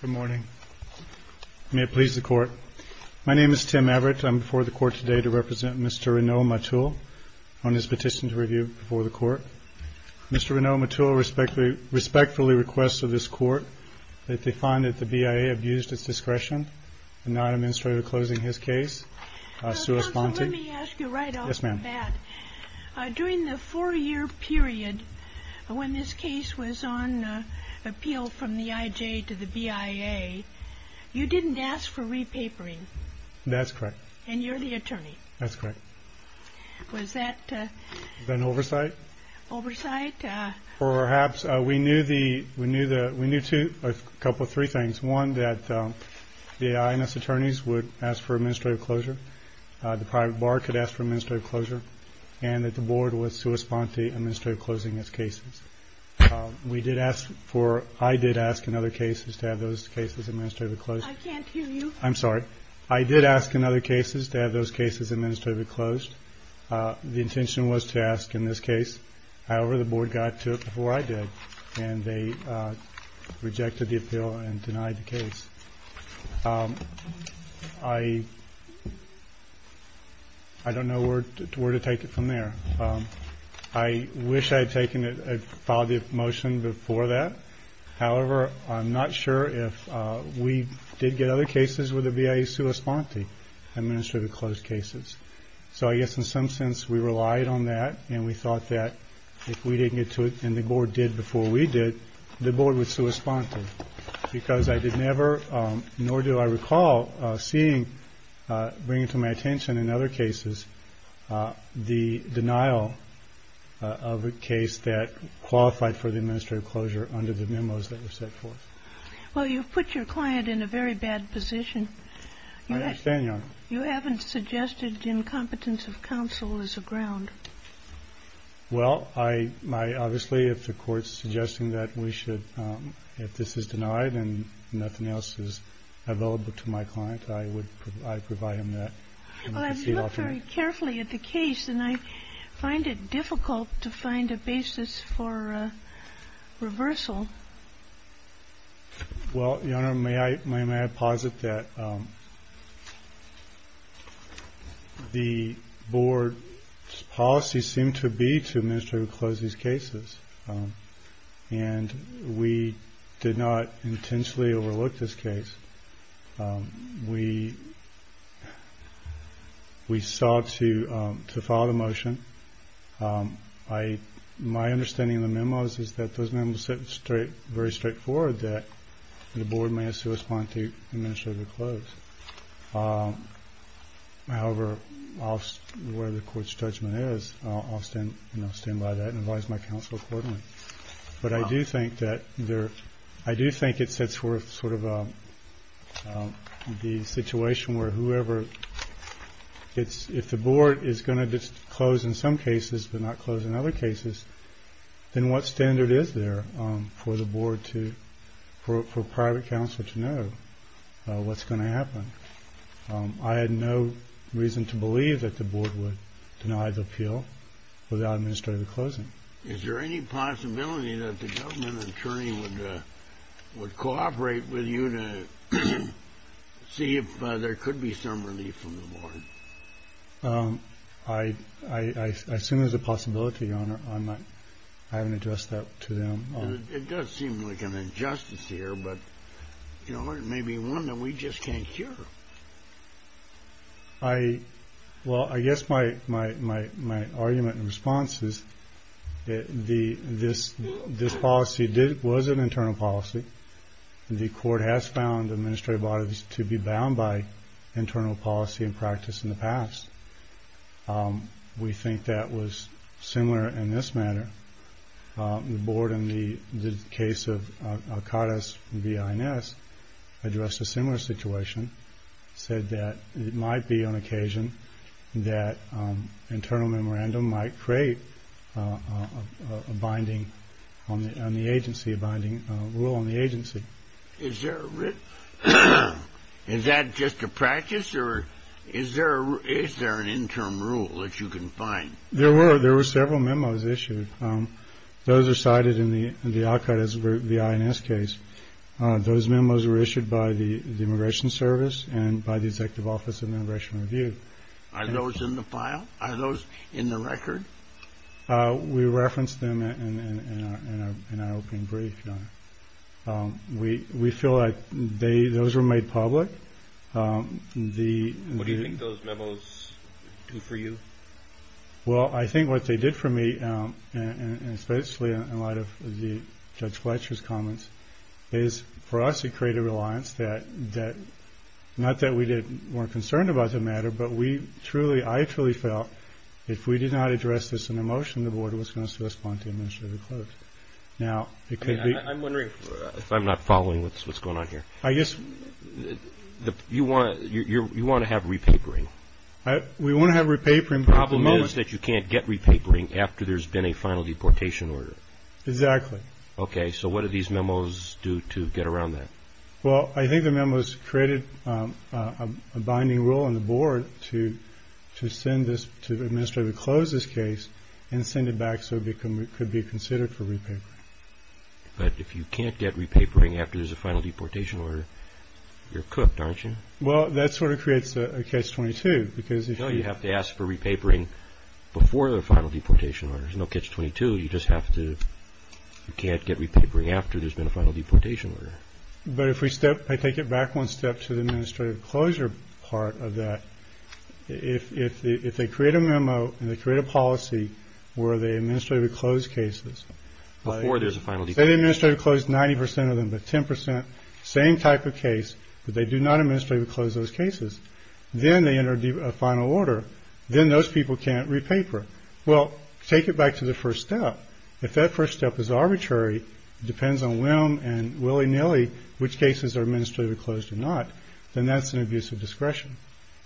Good morning. May it please the court. My name is Tim Everett. I'm before the court today to represent Mr. Rinoa Matul on his petition to review before the court. Mr. Rinoa Matul respectfully requests of this court that they find that the BIA abused its discretion in non-administrative closing his case. During the four year period when this case was on appeal from the IJ to the BIA, you didn't ask for repapering. That's correct. And you're the attorney. That's correct. Was that an oversight? Oversight. Or perhaps we knew two, a couple, three things. One, that the INS attorneys would ask for administrative closure. The private bar could ask for administrative closure. And that the board would correspond to administrative closing its cases. We did ask for, I did ask in other cases to have those cases administratively closed. I can't hear you. I'm sorry. I did ask in other cases to have those cases administratively closed. The intention was to ask in this case. However, the board got to it before I did. And they rejected the appeal and denied the case. I don't know where to take it from there. I wish I had taken it, filed the motion before that. However, I'm not sure if we did get other cases where the BIA was corresponding to administrative closed cases. So I guess in some sense we relied on that. And we thought that if we didn't get to it and the board did before we did, the board would correspond to it. Because I did never, nor do I recall seeing, bringing to my attention in other cases, the denial of a case that qualified for the administrative closure under the memos that were set forth. Well, you've put your client in a very bad position. I understand, Your Honor. You haven't suggested incompetence of counsel as a ground. Well, I obviously, if the court's suggesting that we should, if this is denied and nothing else is available to my client, I would provide him that. Well, I've looked very carefully at the case and I find it difficult to find a basis for reversal. Well, Your Honor, may I, may I posit that the board's policy seemed to be to administratively close these cases. And we did not intentionally overlook this case. We sought to follow the motion. My understanding of the memos is that those memos set very straightforward that the board may have to respond to administratively close. However, where the court's judgment is, I'll stand by that and advise my counsel accordingly. But I do think that there, I do think it sets forth sort of the situation where whoever, if the board is going to close in some cases but not close in other cases, then what standard is there for the board to, for private counsel to know what's going to happen? I had no reason to believe that the board would deny the appeal without administrative closing. Is there any possibility that the government attorney would cooperate with you to see if there could be some relief from the board? I assume there's a possibility, Your Honor. I haven't addressed that to them. It does seem like an injustice here, but, you know, it may be one that we just can't cure. Well, I guess my argument and response is that this policy was an internal policy. The court has found administrative bodies to be bound by internal policy and practice in the past. We think that was similar in this matter. The board in the case of Alcatraz v. INS addressed a similar situation, said that it might be on occasion that internal memorandum might create a binding on the agency, a binding rule on the agency. Is there a, is that just a practice or is there an interim rule that you can find? There were several memos issued. Those are cited in the Alcatraz v. INS case. Those memos were issued by the Immigration Service and by the Executive Office of Immigration Review. Are those in the file? Are those in the record? We referenced them in our opening brief, Your Honor. We feel like they, those were made public. What do you think those memos do for you? Well, I think what they did for me, and especially in light of Judge Fletcher's comments, is for us it created a reliance that, not that we weren't concerned about the matter, but we truly, I truly felt if we did not address this in a motion, the board was going to spontaneously close. I'm wondering if I'm not following what's going on here. I guess you want to have repapering. We want to have repapering. The problem is that you can't get repapering after there's been a final deportation order. Exactly. Okay, so what do these memos do to get around that? Well, I think the memos created a binding rule on the board to send this, to administratively close this case and send it back so it could be considered for repapering. But if you can't get repapering after there's a final deportation order, you're cooked, aren't you? Well, that sort of creates a Catch-22 because if you... No, you have to ask for repapering before the final deportation order. There's no Catch-22. You just have to, you can't get repapering after there's been a final deportation order. But if we step, if I take it back one step to the administrative closure part of that, if they create a memo and they create a policy where they administratively close cases... Before there's a final deportation order. They administratively close 90 percent of them, but 10 percent, same type of case, but they do not administratively close those cases. Then they enter a final order. Then those people can't repaper. Well, take it back to the first step. If that first step is arbitrary, depends on whim and willy-nilly which cases are administratively closed or not, then that's an abuse of discretion.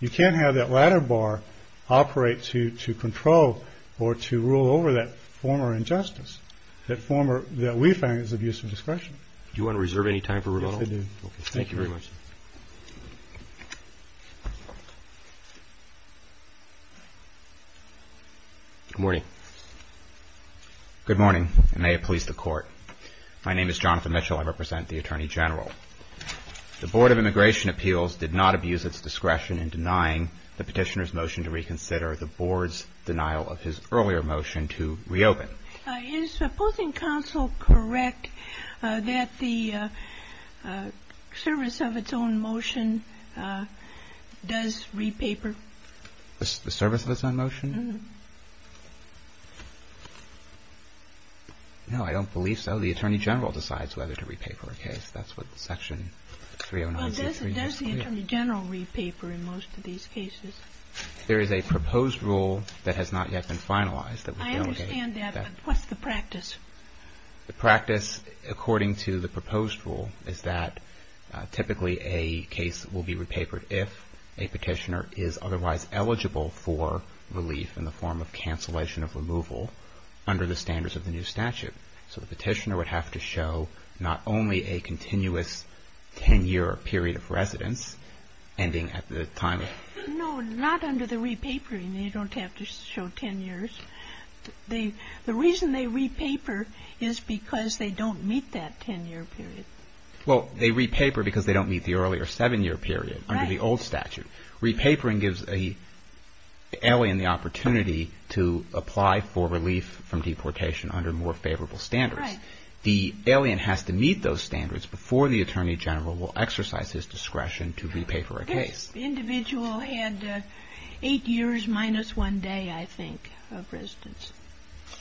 You can't have that ladder bar operate to control or to rule over that former injustice, that we find is abuse of discretion. Do you want to reserve any time for rebuttal? Yes, I do. Okay, thank you very much. Good morning. Good morning, and may it please the Court. My name is Jonathan Mitchell. I represent the Attorney General. The Board of Immigration Appeals did not abuse its discretion in denying the petitioner's motion to reconsider the Board's denial of his earlier motion to reopen. Is the opposing counsel correct that the service of its own motion does repaper? The service of its own motion? Mm-hmm. No, I don't believe so. The Attorney General decides whether to repaper a case. That's what Section 309C3 has to say. Well, does the Attorney General repaper in most of these cases? There is a proposed rule that has not yet been finalized that would validate that. I understand that, but what's the practice? The practice, according to the proposed rule, is that typically a case will be repapered if a petitioner is otherwise eligible for relief in the form of cancellation of removal under the standards of the new statute. So the petitioner would have to show not only a continuous 10-year period of residence, ending at the time of the new statute. No, not under the repapering. They don't have to show 10 years. The reason they repaper is because they don't meet that 10-year period. Well, they repaper because they don't meet the earlier 7-year period under the old statute. Right. Repapering gives an alien the opportunity to apply for relief from deportation under more favorable standards. Right. The alien has to meet those standards before the Attorney General will exercise his discretion to repaper a case. This individual had 8 years minus 1 day, I think, of residence.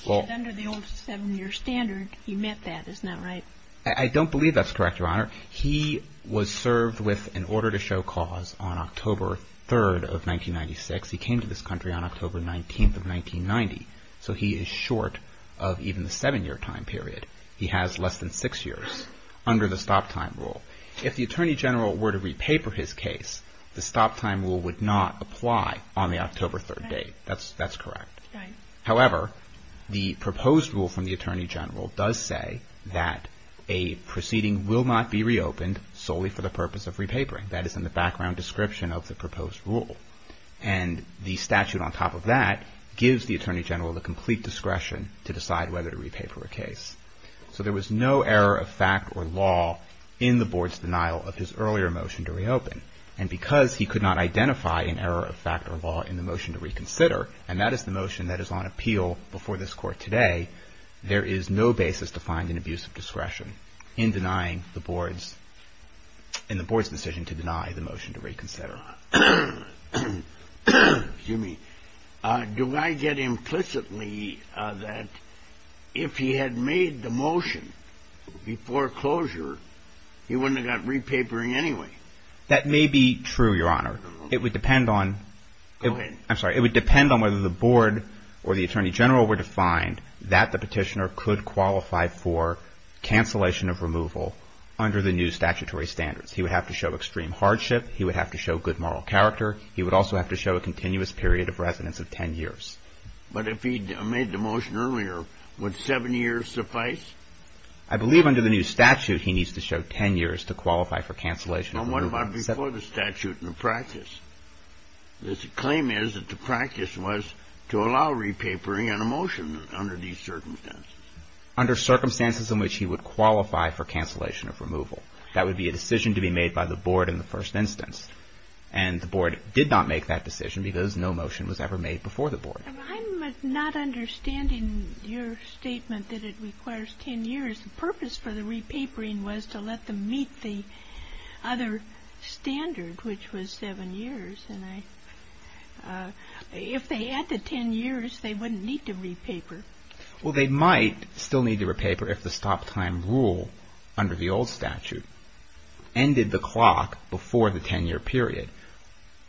Under the old 7-year standard, he met that, isn't that right? I don't believe that's correct, Your Honor. He was served with an order to show cause on October 3rd of 1996. He came to this country on October 19th of 1990. So he is short of even the 7-year time period. He has less than 6 years under the stop-time rule. If the Attorney General were to repaper his case, the stop-time rule would not apply on the October 3rd date. That's correct. Right. However, the proposed rule from the Attorney General does say that a proceeding will not be reopened solely for the purpose of repapering. That is in the background description of the proposed rule. And the statute on top of that gives the Attorney General the complete discretion to decide whether to repaper a case. So there was no error of fact or law in the Board's denial of his earlier motion to reopen. And because he could not identify an error of fact or law in the motion to reconsider, and that is the motion that is on appeal before this Court today, there is no basis to find an abuse of discretion in denying the Board's decision to deny the motion to reconsider. Excuse me. Do I get implicitly that if he had made the motion before closure, he wouldn't have got repapering anyway? That may be true, Your Honor. It would depend on – Go ahead. I'm sorry. It would depend on whether the Board or the Attorney General were to find that the petitioner could qualify for cancellation of removal under the new statutory standards. He would have to show extreme hardship. He would have to show good moral character. He would also have to show a continuous period of residence of 10 years. But if he had made the motion earlier, would seven years suffice? I believe under the new statute he needs to show 10 years to qualify for cancellation of removal. Well, what about before the statute in the practice? The claim is that the practice was to allow repapering and a motion under these circumstances. Under circumstances in which he would qualify for cancellation of removal. That would be a decision to be made by the Board in the first instance. And the Board did not make that decision because no motion was ever made before the Board. I'm not understanding your statement that it requires 10 years. The purpose for the repapering was to let them meet the other standard, which was seven years. And if they had the 10 years, they wouldn't need to repaper. Well, they might still need to repaper if the stop time rule under the old statute ended the clock before the 10-year period.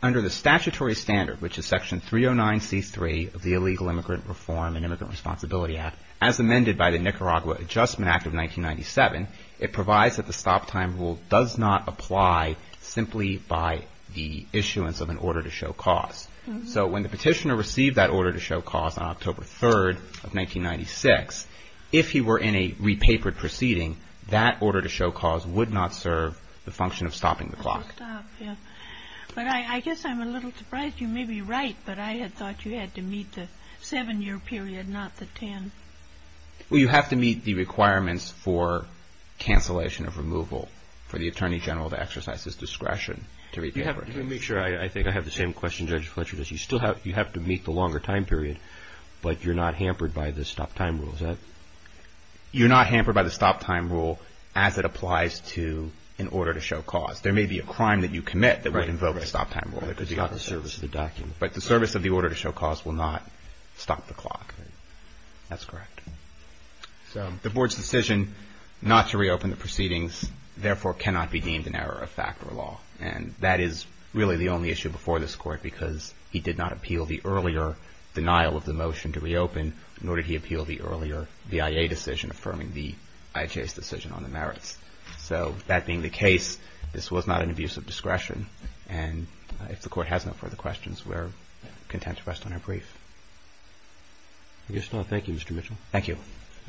Under the statutory standard, which is Section 309C3 of the Illegal Immigrant Reform and Immigrant Responsibility Act, as amended by the Nicaragua Adjustment Act of 1997, it provides that the stop time rule does not apply simply by the issuance of an order to show cause. So when the petitioner received that order to show cause on October 3rd of 1996, if he were in a repapered proceeding, that order to show cause would not serve the function of stopping the clock. But I guess I'm a little surprised. You may be right, but I had thought you had to meet the seven-year period, not the 10. Well, you have to meet the requirements for cancellation of removal for the Attorney General to exercise his discretion to repaper. Let me make sure I think I have the same question Judge Fletcher does. You have to meet the longer time period, but you're not hampered by the stop time rule. You're not hampered by the stop time rule as it applies to an order to show cause. There may be a crime that you commit that would invoke a stop time rule, but the service of the order to show cause will not stop the clock. That's correct. The Board's decision not to reopen the proceedings, therefore, cannot be deemed an error of fact or law. And that is really the only issue before this Court because he did not appeal the earlier denial of the motion to reopen, nor did he appeal the earlier VIA decision affirming the IHA's decision on the merits. So that being the case, this was not an abuse of discretion. And if the Court has no further questions, we're content to rest on our brief. I guess not. Thank you, Mr. Mitchell. Thank you.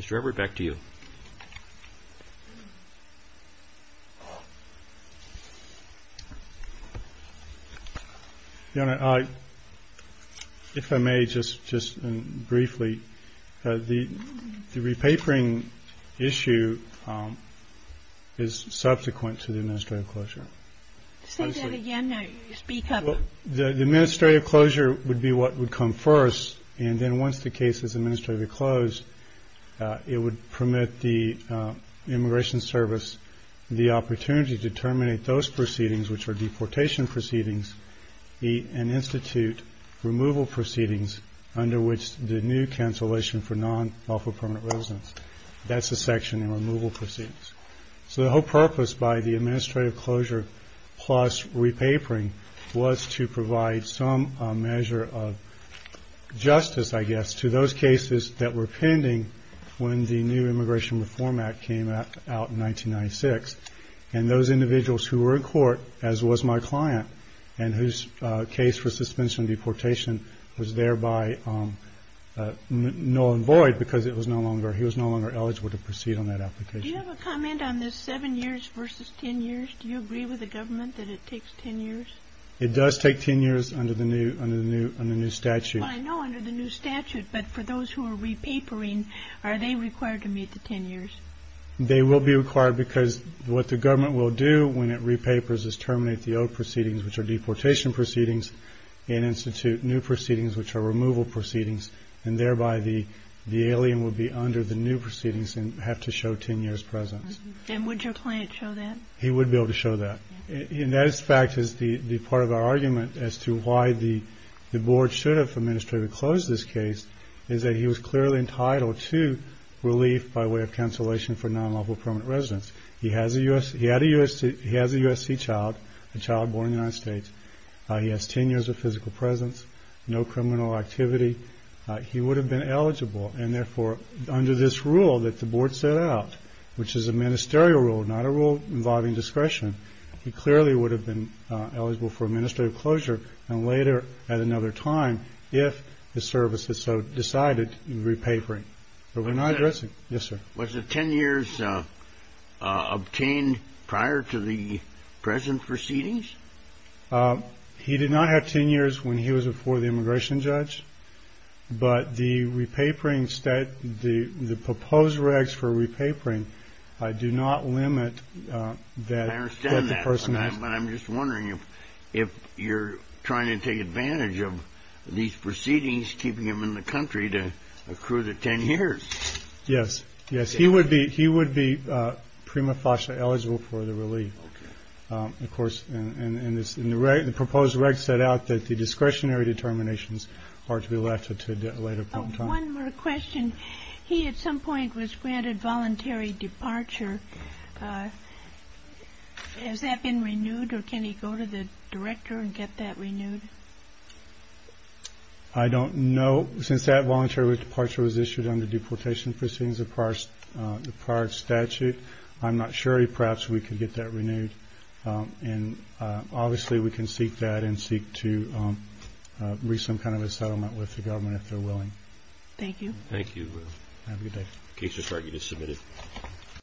Mr. Edward, back to you. Your Honor, if I may just briefly, the repapering issue is subsequent to the administrative closure. Say that again. Speak up. The administrative closure would be what would come first, and then once the case is administratively closed, it would permit the Immigration Service the opportunity to terminate those proceedings, which are deportation proceedings, and institute removal proceedings under which the new cancellation for non-lawful permanent residence. That's the section in removal proceedings. So the whole purpose by the administrative closure plus repapering was to provide some measure of justice, I guess, to those cases that were pending when the new Immigration Reform Act came out in 1996. And those individuals who were in court, as was my client, and whose case for suspension of deportation was thereby null and void because he was no longer eligible to proceed on that application. Do you have a comment on this seven years versus ten years? Do you agree with the government that it takes ten years? It does take ten years under the new statute. I know under the new statute, but for those who are repapering, are they required to meet the ten years? They will be required because what the government will do when it repapers is terminate the old proceedings, which are deportation proceedings, and institute new proceedings, which are removal proceedings, and thereby the alien will be under the new proceedings and have to show ten years' presence. And would your client show that? He would be able to show that. And that, in fact, is the part of our argument as to why the board should have administratively closed this case, is that he was clearly entitled to relief by way of cancellation for non-lawful permanent residence. He has a USC child, a child born in the United States. He has ten years of physical presence, no criminal activity. He would have been eligible, and, therefore, under this rule that the board set out, which is a ministerial rule, not a rule involving discretion, he clearly would have been eligible for administrative closure and later at another time if the service is so decided in repapering. But we're not addressing it. Yes, sir. Was the ten years obtained prior to the present proceedings? He did not have ten years when he was before the immigration judge. But the repapering, the proposed regs for repapering do not limit that person. I understand that, but I'm just wondering if you're trying to take advantage of these proceedings, keeping them in the country to accrue the ten years. Yes. Yes, he would be prima facie eligible for the relief, of course. And the proposed regs set out that the discretionary determinations are to be left to a later point in time. One more question. He at some point was granted voluntary departure. Has that been renewed, or can he go to the director and get that renewed? I don't know. Since that voluntary departure was issued under deportation proceedings of the prior statute, I'm not sure. Perhaps we could get that renewed. And obviously we can seek that and seek to reach some kind of a settlement with the government if they're willing. Thank you. Thank you. Have a good day. Case report, you just submitted.